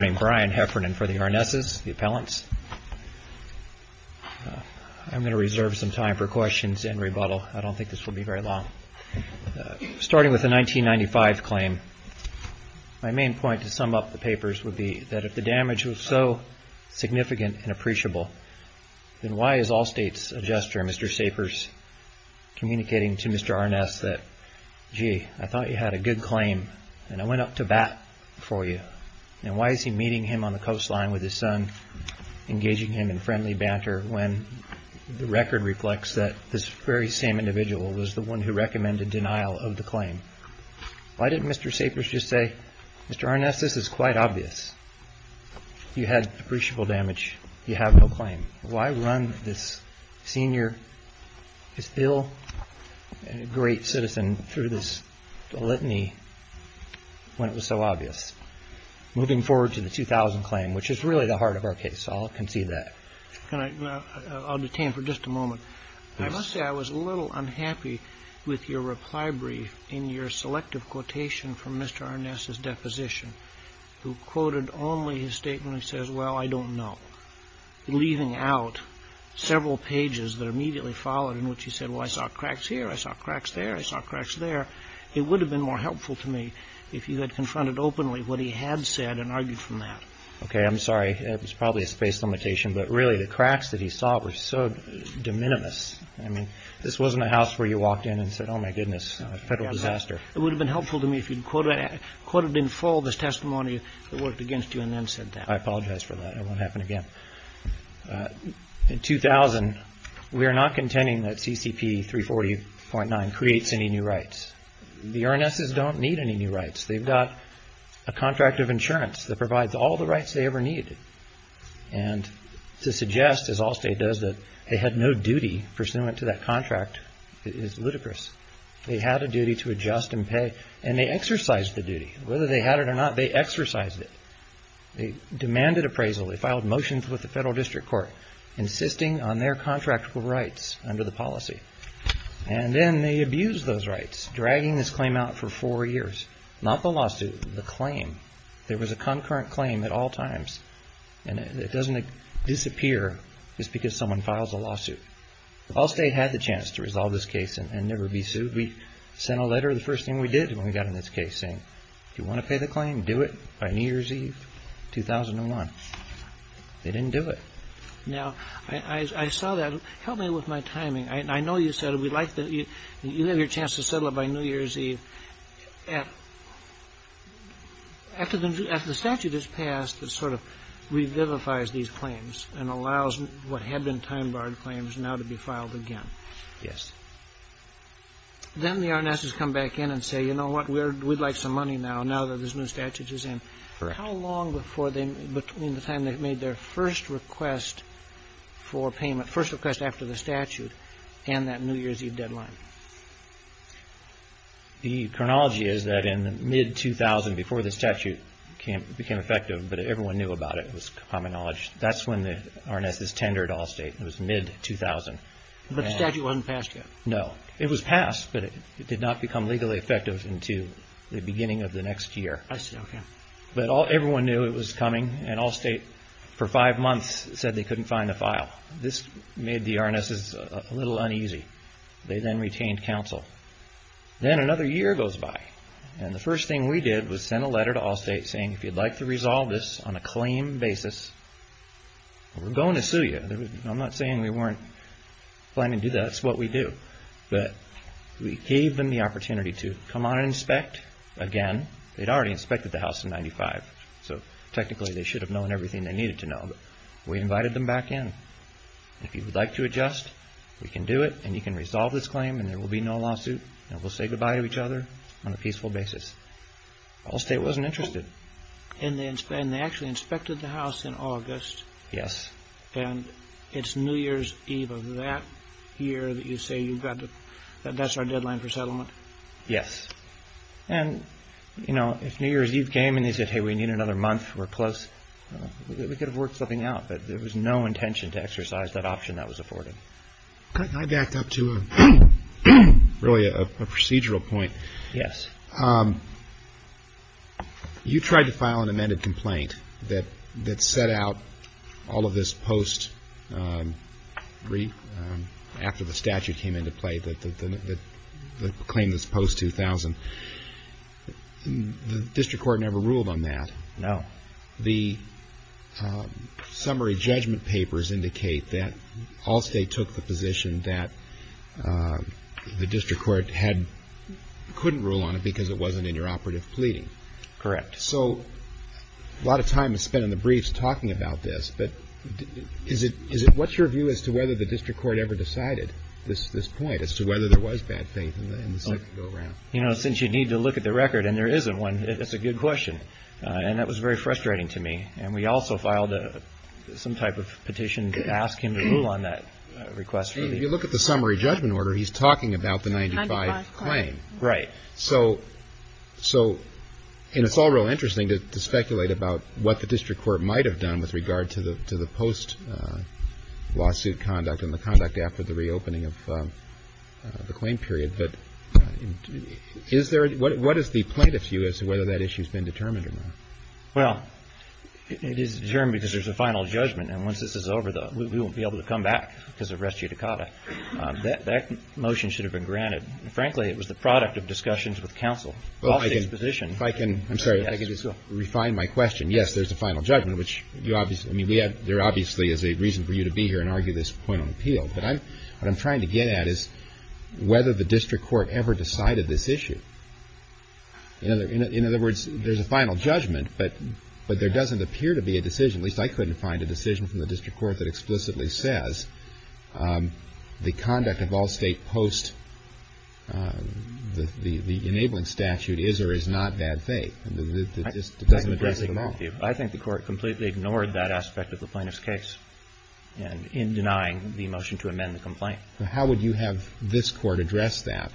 for the Arnesses, the appellants. I'm going to reserve some time for questions and rebuttal. I don't think this will be very long. Starting with the 1995 claim, my main point to sum up the papers would be that if the damage was so significant and appreciable, then why is Allstate's adjuster, Mr. Sapers, communicating to Mr. Arness that, gee, I thought you had a good claim and I went up to bat for you? And why is he meeting him on the coastline with his son, engaging him in friendly banter, when the record reflects that this very same individual was the one who recommended denial of the claim? Why didn't Mr. Sapers just say, Mr. Arness, this is quite obvious. You had appreciable damage. You have no claim. Why run this senior, this ill, great citizen through this litany when it was so obvious? Moving forward to the 2000 claim, which is really the heart of our case, I'll concede that. I'll detain for just a moment. I must say I was a little unhappy with your reply brief in your selective quotation from Mr. Arness's deposition, who quoted only his statement when he says, well, I don't know, leaving out several pages that are immediately followed in which he said, well, I saw cracks here. I saw cracks there. I saw cracks there. It would have been more helpful to me if you had confronted openly what he had said and argued from that. Okay. I'm sorry. It was probably a space limitation. But really, the cracks that he saw were so de minimis. I mean, this wasn't a house where you walked in and said, oh, my goodness, a federal disaster. It would have been helpful to me if you'd quoted in full this testimony that worked against you and then said that. I apologize for that. It won't happen again. In 2000, we are not contending that CCP 340.9 creates any new rights. The Arnesses don't need any new rights. They've got a contract of insurance that provides all the rights they ever needed. And to suggest, as Allstate does, that they had no duty pursuant to that contract is ludicrous. They had a duty to adjust and pay, and they exercised the duty. Whether they had it or not, they exercised it. They demanded appraisal. They filed motions with the federal district court, insisting on their contractual rights under the policy. And then they abused those rights, dragging this claim out for four years. Not the lawsuit, the claim. There was a concurrent claim at all times, and it doesn't disappear just because someone files a lawsuit. Allstate had the chance to resolve this case and never be sued. We sent a letter the first thing we did when we got in this case, saying, if you want to pay the claim, do it by New Year's Eve, 2001. They didn't do it. Now, I saw that. Help me with my timing. I know you said you have your chance to settle it by New Year's Eve. After the statute is passed, it sort of revivifies these claims and allows what had been time-barred claims now to be filed again. Yes. Then the RNSs come back in and say, you know what, we'd like some money now, now that this new statute is in. Correct. How long before they, between the time they made their first request for payment, first request after the statute and that New Year's Eve deadline? The chronology is that in mid-2000, before the statute became effective, but everyone knew about it, it was common knowledge, that's when the RNSs tendered Allstate. It was mid-2000. But the statute wasn't passed yet? No. It was passed, but it did not become legally effective until the beginning of the next year. I see, okay. But everyone knew it was coming, and Allstate, for five months, said they couldn't find a file. This made the RNSs a little uneasy. They then retained counsel. Then another year goes by, and the first thing we did was send a letter to Allstate saying, if you'd like to resolve this on a claim basis, we're going to sue you. I'm not saying we weren't planning to do that. That's what we do. But we gave them the opportunity to come out and inspect. Again, they'd already inspected the house in 1995, so technically they should have known everything they needed to know. But we invited them back in. If you would like to adjust, we can do it, and you can resolve this claim, and there will be no lawsuit, and we'll say goodbye to each other on a peaceful basis. Allstate wasn't interested. And they actually inspected the house in August, and it's New Year's Eve of that year that you say, that's our deadline for settlement? Yes. And, you know, if New Year's Eve came and they said, hey, we need another month, we're close, we could have worked something out. But there was no intention to exercise that option that was afforded. I backed up to really a procedural point. Yes. You tried to file an amended complaint that set out all of this post, after the statute came into play, the claim that's post-2000. The district court never ruled on that. No. The summary judgment papers indicate that Allstate took the position that the district court couldn't rule on it because it wasn't in your operative pleading. Correct. So a lot of time is spent in the briefs talking about this, but what's your view as to whether the district court ever decided this point, as to whether there was bad faith in the second go-around? You know, since you need to look at the record, and there isn't one, it's a good question. And that was very frustrating to me. And we also filed some type of petition to ask him to rule on that request. If you look at the summary judgment order, he's talking about the 95 claim. Right. So, and it's all real interesting to speculate about what the district court might have done with regard to the post-lawsuit conduct and the conduct after the reopening of the claim period. But is there, what is the plaintiff's view as to whether that issue's been determined or not? Well, it is determined because there's a final judgment. And once this is over, we won't be able to come back because of res judicata. That motion should have been granted. And frankly, it was the product of discussions with counsel. Well, I can, if I can, I'm sorry, if I can just refine my question. Yes, there's a final judgment, which you obviously, I mean, we have, there obviously is a reason for you to be here and argue this point on appeal. But I'm, what I'm trying to get at is whether the district court ever decided this issue. In other, in other words, there's a final judgment, but there doesn't appear to be a decision, at least I couldn't find a decision from the district court that explicitly says the conduct of all state post, the, the enabling statute is or is not bad faith. I think the court completely ignored that aspect of the plaintiff's case in denying the motion to amend the complaint. How would you have this court address that?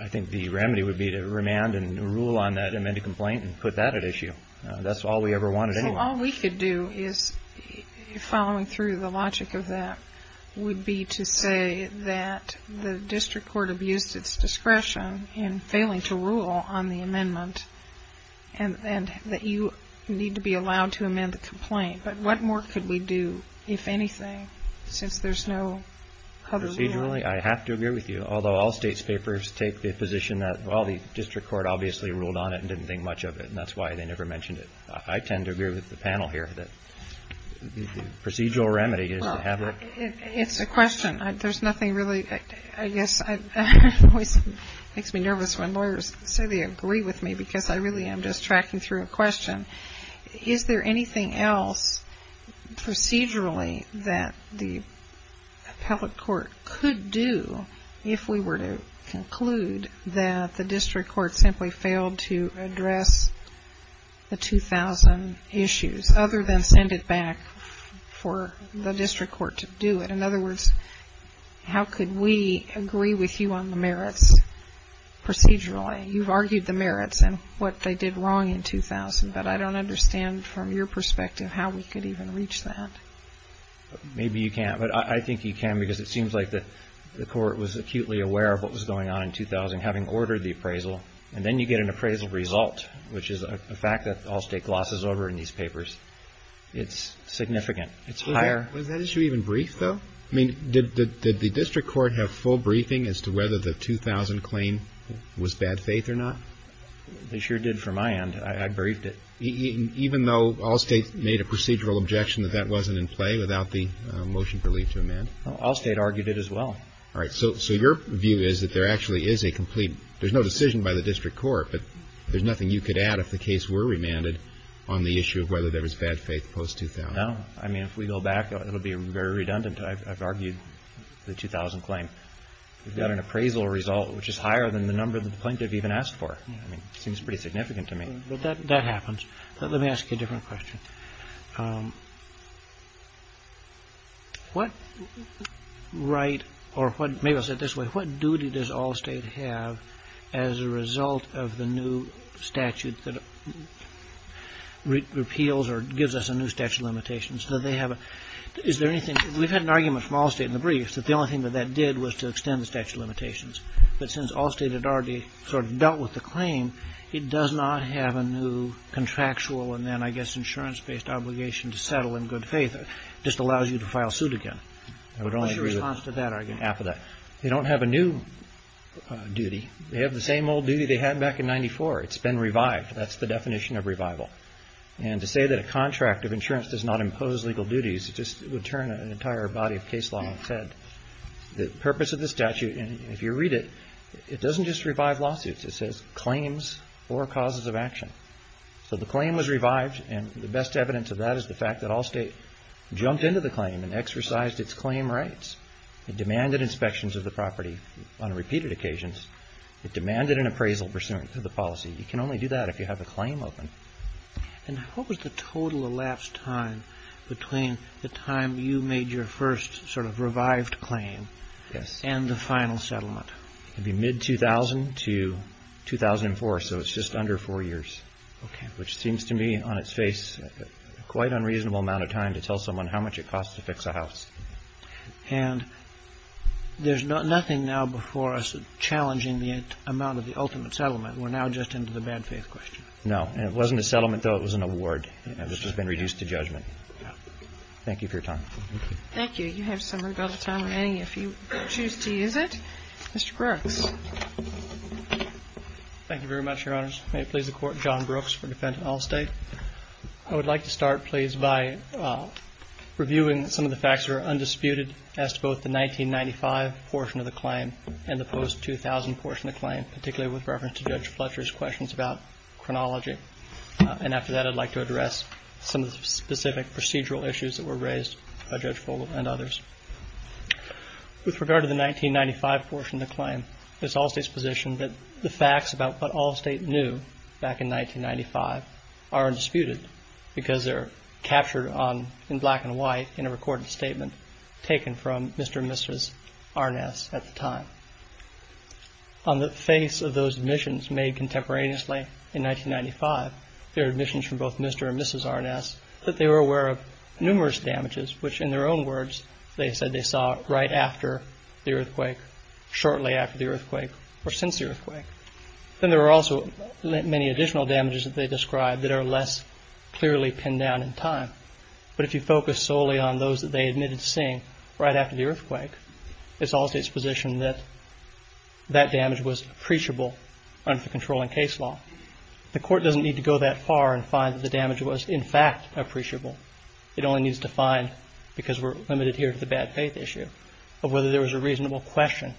I think the remedy would be to remand and rule on that amended complaint and put that at issue. That's all we ever wanted anyway. Well, all we could do is, following through the logic of that, would be to say that the district court abused its discretion in failing to rule on the amendment and, and that you need to be allowed to amend the complaint. But what more could we do, if anything, since there's no other way? Procedurally, I have to agree with you. Although all state's papers take the position that, well, the district court obviously ruled on it and didn't think much of it, and that's why they never mentioned it. I tend to agree with the panel here that the procedural remedy is to have a... Well, it's a question. There's nothing really, I guess, I, it always makes me nervous when lawyers say they agree with me because I really am just tracking through a question. Is there anything else procedurally that the appellate court could do if we were to conclude that the district court simply failed to address the 2000 issues, other than send it back for the district court to do it? In other words, how could we agree with you on the merits procedurally? You've argued the merits and what they did wrong in 2000, but I don't understand from your perspective how we could even reach that. Maybe you can't, but I, I think you can because it seems like the, the court was acutely aware of what was going on in 2000, having ordered the appraisal, and then you get an appraisal result, which is a fact that Allstate glosses over in these papers. It's significant. It's higher... Was that issue even briefed, though? I mean, did, did, did the district court have full briefing as to whether the 2000 claim was bad faith or not? They sure did from my end. I, I briefed it. Even though Allstate made a procedural objection that that wasn't in play without the motion to leave to amend? Allstate argued it as well. All right. So, so your view is that there actually is a complete, there's no decision by the district court, but there's nothing you could add if the case were remanded on the issue of whether there was bad faith post-2000? No. I mean, if we go back, it'll be very redundant. I've, I've argued the 2000 claim. We've got an appraisal result, which is higher than the number that the plaintiff even asked for. I mean, it seems pretty significant to me. But that, that happens. Let me ask you a different question. What right, or what, maybe I'll say it this way, what duty does Allstate have as a result of the new statute that repeals or gives us a new statute of limitations? Do they have a, is there anything, we've had an argument from Allstate in the briefs that the only thing that that did was to extend the statute of limitations. But since Allstate had already sort of dealt with the claim, it does not have a new contractual and then, I guess, insurance-based obligation to settle in good faith. It just allows you to file suit again. What's your response to that argument? I would only agree with half of that. They don't have a new duty. They have the same old duty they had back in 94. It's been revived. That's the definition of revival. And to say that a contract of insurance does not impose legal duties just would turn an entire body of case law on its head. The purpose of the statute, and if you read it, it doesn't just revive lawsuits. It says claims or causes of action. So the claim was revived and the best evidence of that is the fact that Allstate jumped into the claim and exercised its claim rights. It demanded inspections of the property on repeated occasions. It demanded an appraisal pursuant to the policy. You can only do that if you have a claim open. And what was the total elapsed time between the time you made your first sort of revived claim and the final settlement? It would be mid-2000 to 2004, so it's just under four years, which seems to me on its face a quite unreasonable amount of time to tell someone how much it costs to fix a house. And there's nothing now before us challenging the amount of the ultimate settlement. We're now just into the bad faith question. No. It wasn't a settlement, though. It was an award, which has been reduced to judgment. Thank you for your time. Thank you. You have some rebuttal time remaining, if you choose to use it. Mr. Brooks. Thank you very much, Your Honors. May it please the Court, John Brooks for Defendant Allstate. I would like to start, please, by reviewing some of the facts that are undisputed as to both the 1995 portion of the claim and the post-2000 portion of the claim, particularly with reference to Judge Fletcher's questions about chronology. And after that, I'd like to address some of the specific procedural issues that were raised by Judge Fulton and others. With regard to the 1995 portion of the claim, it's Allstate's position that the facts about what Allstate knew back in 1995 are undisputed because they're captured in black and white in a recorded statement taken from Mr. and Mrs. Arness at the time. On the face of those admissions made contemporaneously in 1995, there are admissions from both Mr. and Mrs. Arness that they were aware of numerous damages, which in their own words, they said they saw right after the earthquake, shortly after the earthquake, or since the earthquake. Then there were also many additional damages that they described that are less clearly pinned down in time. But if you focus solely on those that they admitted to seeing right after the earthquake, it's Allstate's position that that damage was preachable under controlling case law. The court doesn't need to go that far and find that the damage was in fact appreciable. It only needs to find, because we're limited here to the bad faith issue, of whether there was a reasonable question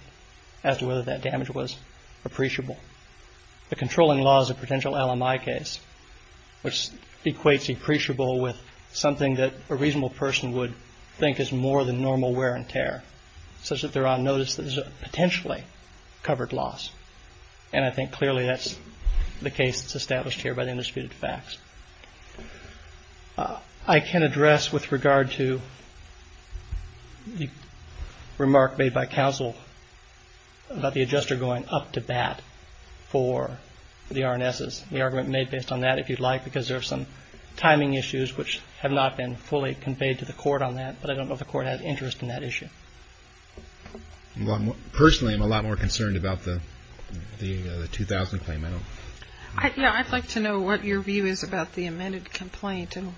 as to whether that damage was appreciable. The controlling law is a potential LMI case, which equates appreciable with something that a reasonable person would think is more than normal wear and tear, such that they're on covered loss. And I think clearly that's the case that's established here by the undisputed facts. I can address with regard to the remark made by counsel about the adjuster going up to bat for the Arnesses, the argument made based on that, if you'd like, because there are some timing issues which have not been fully conveyed to the court on that, but I don't know if the court has interest in that issue. Personally, I'm a lot more concerned about the 2000 claim. Yeah, I'd like to know what your view is about the amended complaint and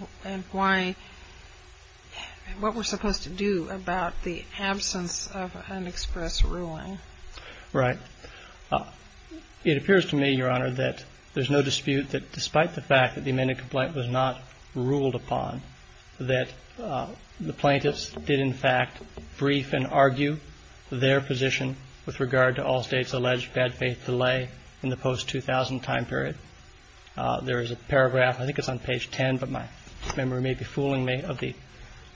what we're supposed to do about the absence of an express ruling. Right. It appears to me, Your Honor, that there's no dispute that despite the fact that the amended complaint was not ruled upon, that the plaintiffs did, in fact, brief and argue their position with regard to all states' alleged bad faith delay in the post-2000 time period. There is a paragraph, I think it's on page 10, but my memory may be fooling me, of the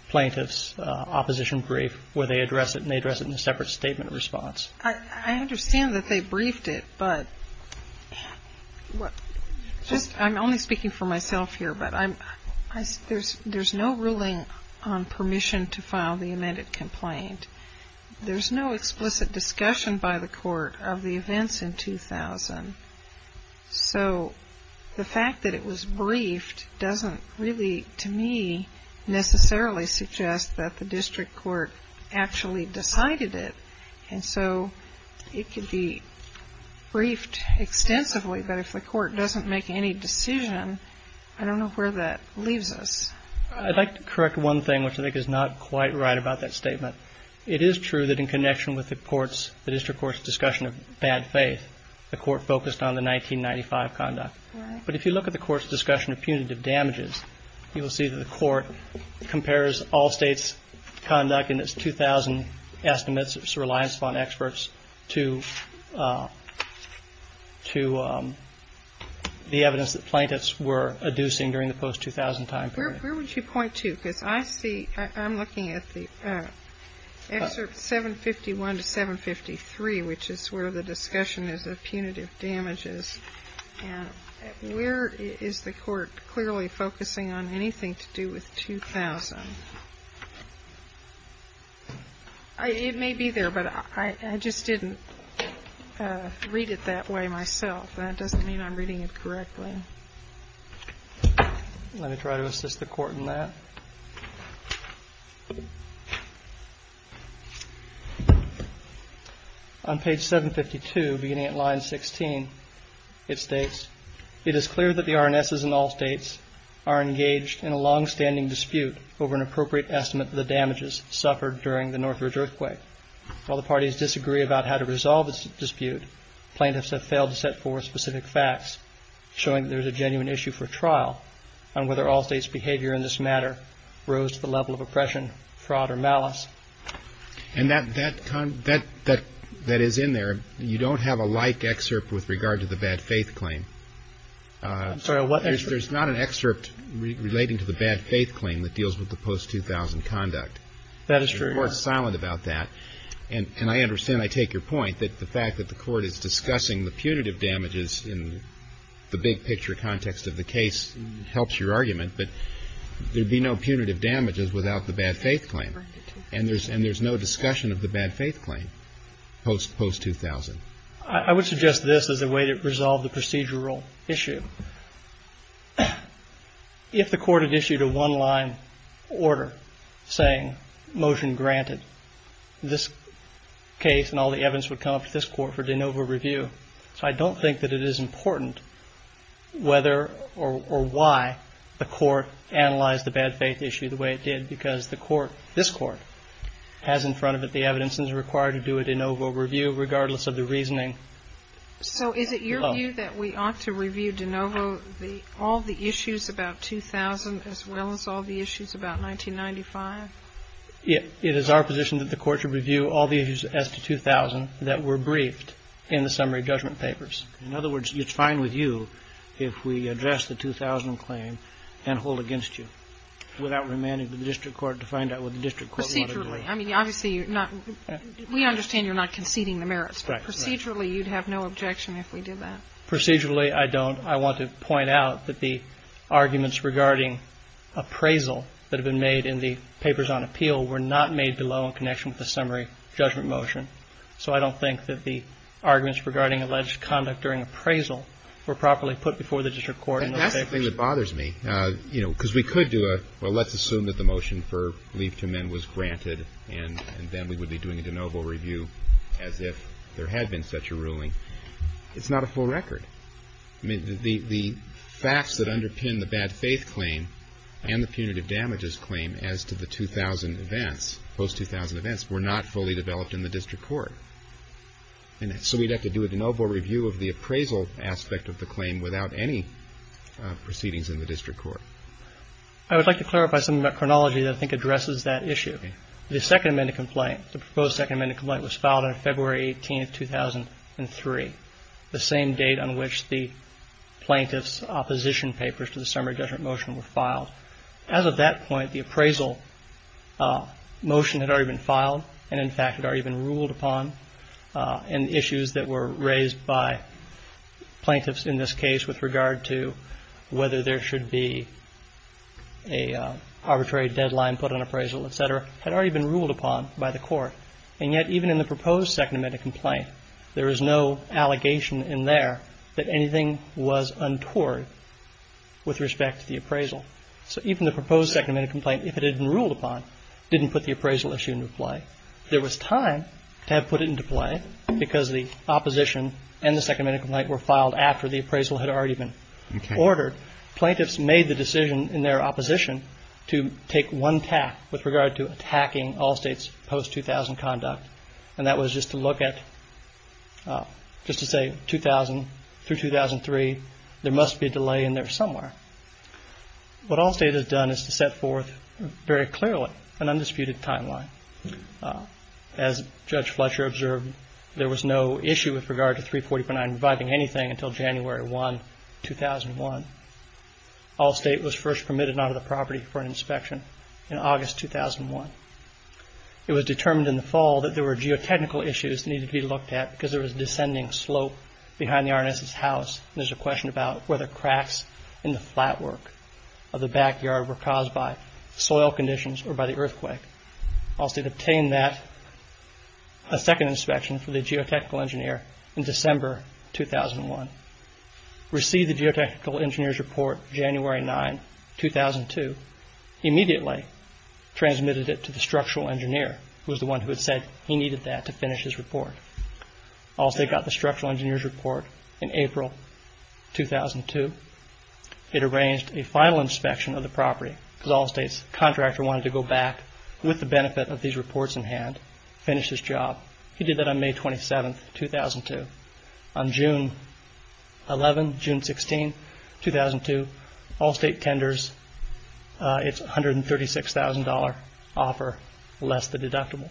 plaintiffs' opposition brief where they address it and they address it in a separate statement response. I understand that they briefed it, but I'm only speaking for myself here, but there's no ruling on permission to file the amended complaint. There's no explicit discussion by the court of the events in 2000, so the fact that it was briefed doesn't really, to me, suggest that the district court actually decided it. And so it could be briefed extensively, but if the court doesn't make any decision, I don't know where that leaves us. I'd like to correct one thing, which I think is not quite right about that statement. It is true that in connection with the district court's discussion of bad faith, the court focused on the 1995 conduct. But if you look at the court's discussion of punitive damages, you will see that the court compares all states' conduct in its 2000 estimates, its reliance upon experts, to the evidence that plaintiffs were adducing during the post-2000 time period. Where would you point to? Because I see, I'm looking at the excerpt 751 to 753, which is where the discussion is of punitive damages. And where is the court clearly focusing on anything to do with 2000? It may be there, but I just didn't read it that way myself. That doesn't mean I'm reading it correctly. Let me try to assist the court in that. On page 752, beginning at line 16, it states, it is clear that the RNSs in all states are engaged in a longstanding dispute over an appropriate estimate of the damages suffered during the Northridge earthquake. While the parties disagree about how to resolve this dispute, plaintiffs have failed to set forth specific facts showing that there's a genuine issue for trial on whether all states' behavior in this matter rose to the level of oppression, fraud, or malice. And that is in there. You don't have a like excerpt with regard to the bad faith claim. I'm sorry, what excerpt? There's not an excerpt relating to the bad faith claim that deals with the post-2000 conduct. That is true, Your Honor. The court's silent about that. And I understand, I take your point, that the fact that the case is in the big-picture context of the case helps your argument, but there'd be no punitive damages without the bad faith claim. And there's no discussion of the bad faith claim post-2000. I would suggest this as a way to resolve the procedural issue. If the court had issued a one-line order saying, motion granted, this case and all the evidence would come up to this court for de novo review. So I don't think that it is important whether or why the court analyzed the bad faith issue the way it did because the court, this court, has in front of it the evidence that is required to do a de novo review regardless of the reasoning. So is it your view that we ought to review de novo all the issues about 2000 as well as all the issues about 1995? It is our position that the court should review all the issues as to 2000 that were briefed in the summary judgment papers. In other words, it's fine with you if we address the 2000 claim and hold against you without remanding the district court to find out what the district court wanted to do. Procedurally. I mean, obviously, you're not – we understand you're not conceding the merits. Right. Procedurally, you'd have no objection if we did that. Procedurally, I don't. I want to point out that the arguments regarding appraisal that have been made in the papers on appeal were not made below in connection with the summary judgment motion. So I don't think that the arguments regarding alleged conduct during appraisal were properly put before the district court in those papers. That's the thing that bothers me, you know, because we could do a, well, let's assume that the motion for leave to men was granted and then we would be doing a de novo review as if there had been such a ruling. It's not a full record. I mean, the facts that underpin the bad faith claim and the punitive damages claim as to the 2000 events, post-2000 events, were not fully developed in the district court. And so we'd have to do a de novo review of the appraisal aspect of the claim without any proceedings in the district court. I would like to clarify something about chronology that I think addresses that issue. The Second Amendment complaint, the proposed Second Amendment complaint, was filed on February 18th, 2003, the same date on which the plaintiff's opposition papers to the summary judgment motion were filed. As of that point, the appraisal motion had already been filed and, in fact, had already been ruled upon. And issues that were raised by plaintiffs in this case with regard to whether there should be an arbitrary deadline put on appraisal, et cetera, had already been ruled upon by the court. And yet, even in the proposed Second Amendment complaint, there is no allegation in there that anything was untoward with respect to the appraisal. So even the proposed Second Amendment complaint, if it had been ruled upon, didn't put the appraisal issue into play. There was time to have put it into play because the opposition and the Second Amendment complaint were filed after the appraisal had already been ordered. Plaintiffs made the decision in their opposition to take one tack with regard to attacking Allstate's post-2000 conduct, and that was just to look at, just to say, 2000-2003, there must be a delay in there somewhere. What Allstate has done is to set forth very clearly an undisputed timeline. As Judge Fletcher observed, there was no issue with regard to 340.9 reviving anything until January 1, 2001. Allstate was first permitted onto the property for an inspection in August 2001. It was determined in the fall that there were geotechnical issues that needed to be looked at because there was a descending slope behind the R&S's house, and there's a question about whether cracks in the flatwork of the backyard were caused by soil conditions or by the earthquake. Allstate obtained that, a second inspection for the geotechnical engineer in December 2001, received the geotechnical engineer's report January 9, 2002, immediately transmitted it to the structural engineer, who was the one who had said he needed that to finish his report. Allstate got the structural engineer's report in April 2002. It arranged a final inspection of the property because Allstate's contractor wanted to go back with the benefit of these reports in hand, finish his job. He did that on May 27, 2002. On June 11, June 16, 2002, Allstate tenders its $136,000,000,000,000,000,000,000,000,000,000,000,000,000,000 offer less the deductible.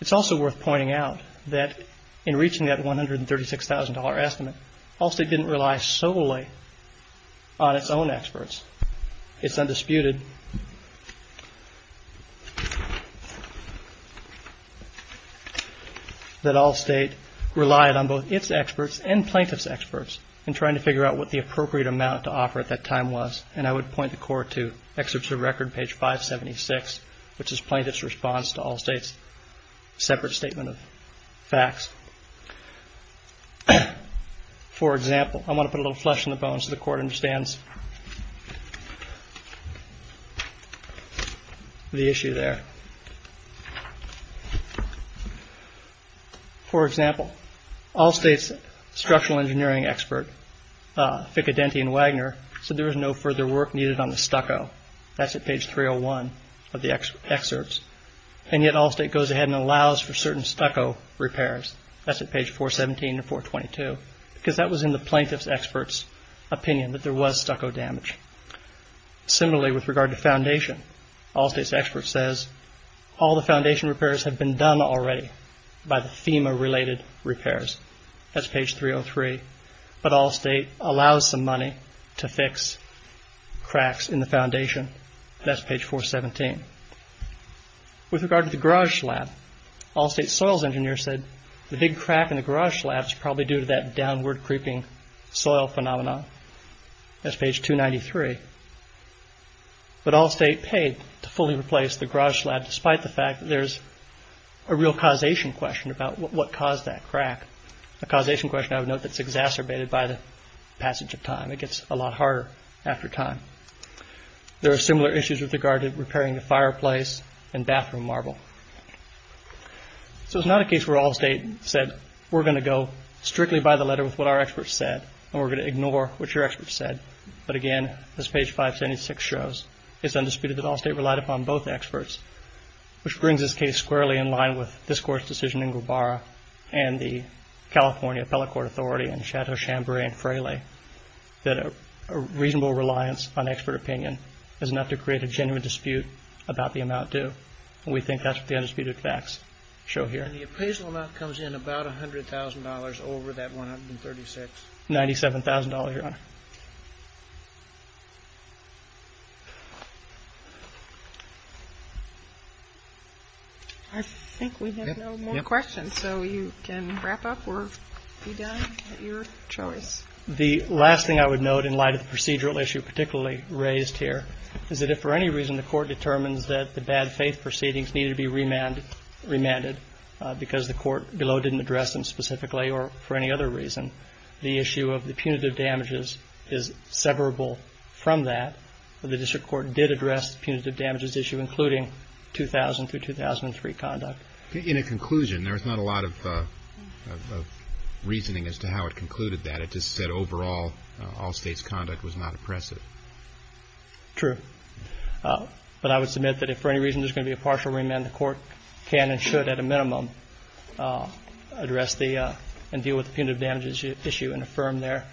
It's also worth pointing out that in reaching that $136,000,000,000,000,000,000,000 estimate, Allstate didn't rely solely on its own experts. It's undisputed that Allstate relied on both its experts and plaintiff's experts in trying to figure out what the appropriate amount to offer at that time was. I would point the Court to Excerpts of Record, page 576, which is Plaintiff's response to Allstate's separate statement of facts. For example, I want to put a little flesh on the bones so the Court understands the issue there. For example, Allstate's structural engineering expert, Ficcidenti, in the case of Wagner, said there was no further work needed on the stucco. That's at page 301 of the excerpts. Yet Allstate goes ahead and allows for certain stucco repairs. That's at page 417 and 422, because that was in the plaintiff's expert's opinion that there was stucco damage. Similarly, with regard to foundation, Allstate's expert says, all the foundation repairs have been done already by the FEMA-related repairs. That's page 303. But Allstate allows some to fix cracks in the foundation. That's page 417. With regard to the garage slab, Allstate's soils engineer said the big crack in the garage slab is probably due to that downward creeping soil phenomenon. That's page 293. But Allstate paid to fully replace the garage slab despite the fact that there's a real causation question about what caused that crack, a causation question I would note that's exacerbated by the passage of time. It gets a lot harder after time. There are similar issues with regard to repairing the fireplace and bathroom marble. So it's not a case where Allstate said, we're going to go strictly by the letter with what our experts said, and we're going to ignore what your experts said. But again, as page 576 shows, it's undisputed that Allstate relied upon both experts, which brings this case squarely in line with this Court's decision in Guevara and the California Appellate Court of Authority in Chateau-Chambray and Fraley, that a reasonable reliance on expert opinion is enough to create a genuine dispute about the amount due. We think that's what the undisputed facts show here. And the appraisal amount comes in about $100,000 over that 136. $97,000, Your Honor. I think we have no more questions, so you can wrap up or be done. Your choice. The last thing I would note in light of the procedural issue particularly raised here is that if for any reason the Court determines that the bad faith proceedings need to be remanded because the court below didn't address them specifically or for any other reason, the issue of the punitive damages is severable from that. The district court did address the punitive damages issue, including 2000 through 2003 conduct. In a conclusion, there's not a lot of reasoning as to how it concluded that. It just said overall, all states' conduct was not oppressive. True. But I would submit that if for any reason there's going to be a partial remand, the Court can and should at a minimum address the and deal with the punitive damages issue and affirm there.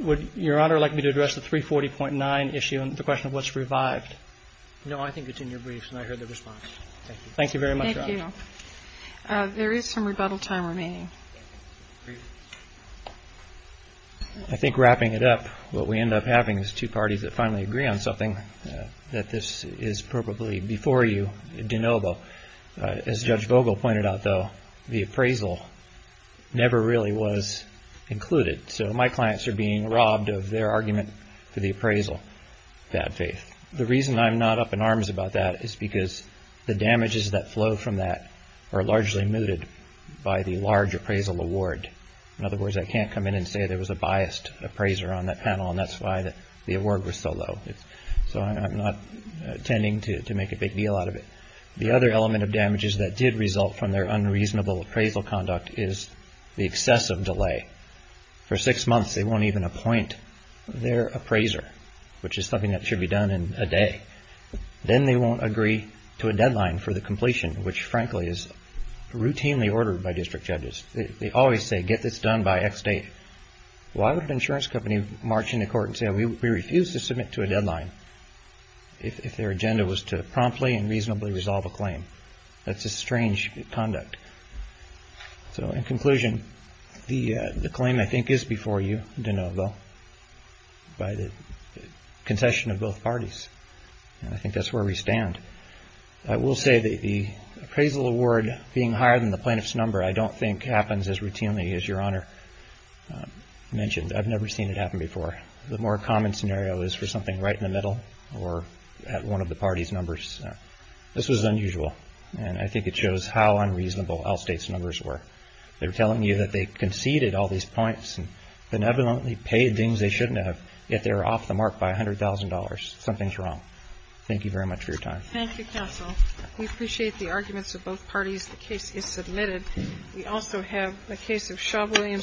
Would Your Honor like me to address the 340.9 issue and the question of what's revived? No, I think it's in your briefs and I heard the response. Thank you. Thank you very much. There is some rebuttal time remaining. I think wrapping it up, what we end up having is two parties that finally agree on something that this is probably before you, de novo. As Judge Vogel pointed out, though, the appraisal never really was included. So my clients are being robbed of their argument for the appraisal, bad faith. The reason I'm not up in arms about that is because the damages that flow from that are largely mooted by the large appraisal award. In other words, I can't come in and say there was a biased appraiser on that panel and that's why the award was so low. So I'm not intending to make a big deal out of it. The other element of damages that did result from their unreasonable appraisal conduct is the excessive delay. For six months, they won't even appoint their appraiser, which is something that they do every day, then they won't agree to a deadline for the completion, which, frankly, is routinely ordered by district judges. They always say, get this done by X date. Why would an insurance company march into court and say we refuse to submit to a deadline if their agenda was to promptly and reasonably resolve a claim? That's a strange conduct. So in conclusion, the claim I think is before you, de novo, by the concession of both parties, and I think that's where we stand. I will say that the appraisal award being higher than the plaintiff's number, I don't think happens as routinely as Your Honor mentioned. I've never seen it happen before. The more common scenario is for something right in the middle or at one of the party's numbers. This was unusual, and I think it shows how unreasonable out-of-state's numbers were. They're telling you that they conceded all these points and benevolently paid things they shouldn't have, yet they're off the mark by $100,000. Something's wrong. Thank you very much for your time. Thank you, counsel. We appreciate the arguments of both parties. The case is submitted. We also have a case of Shaw-Williams.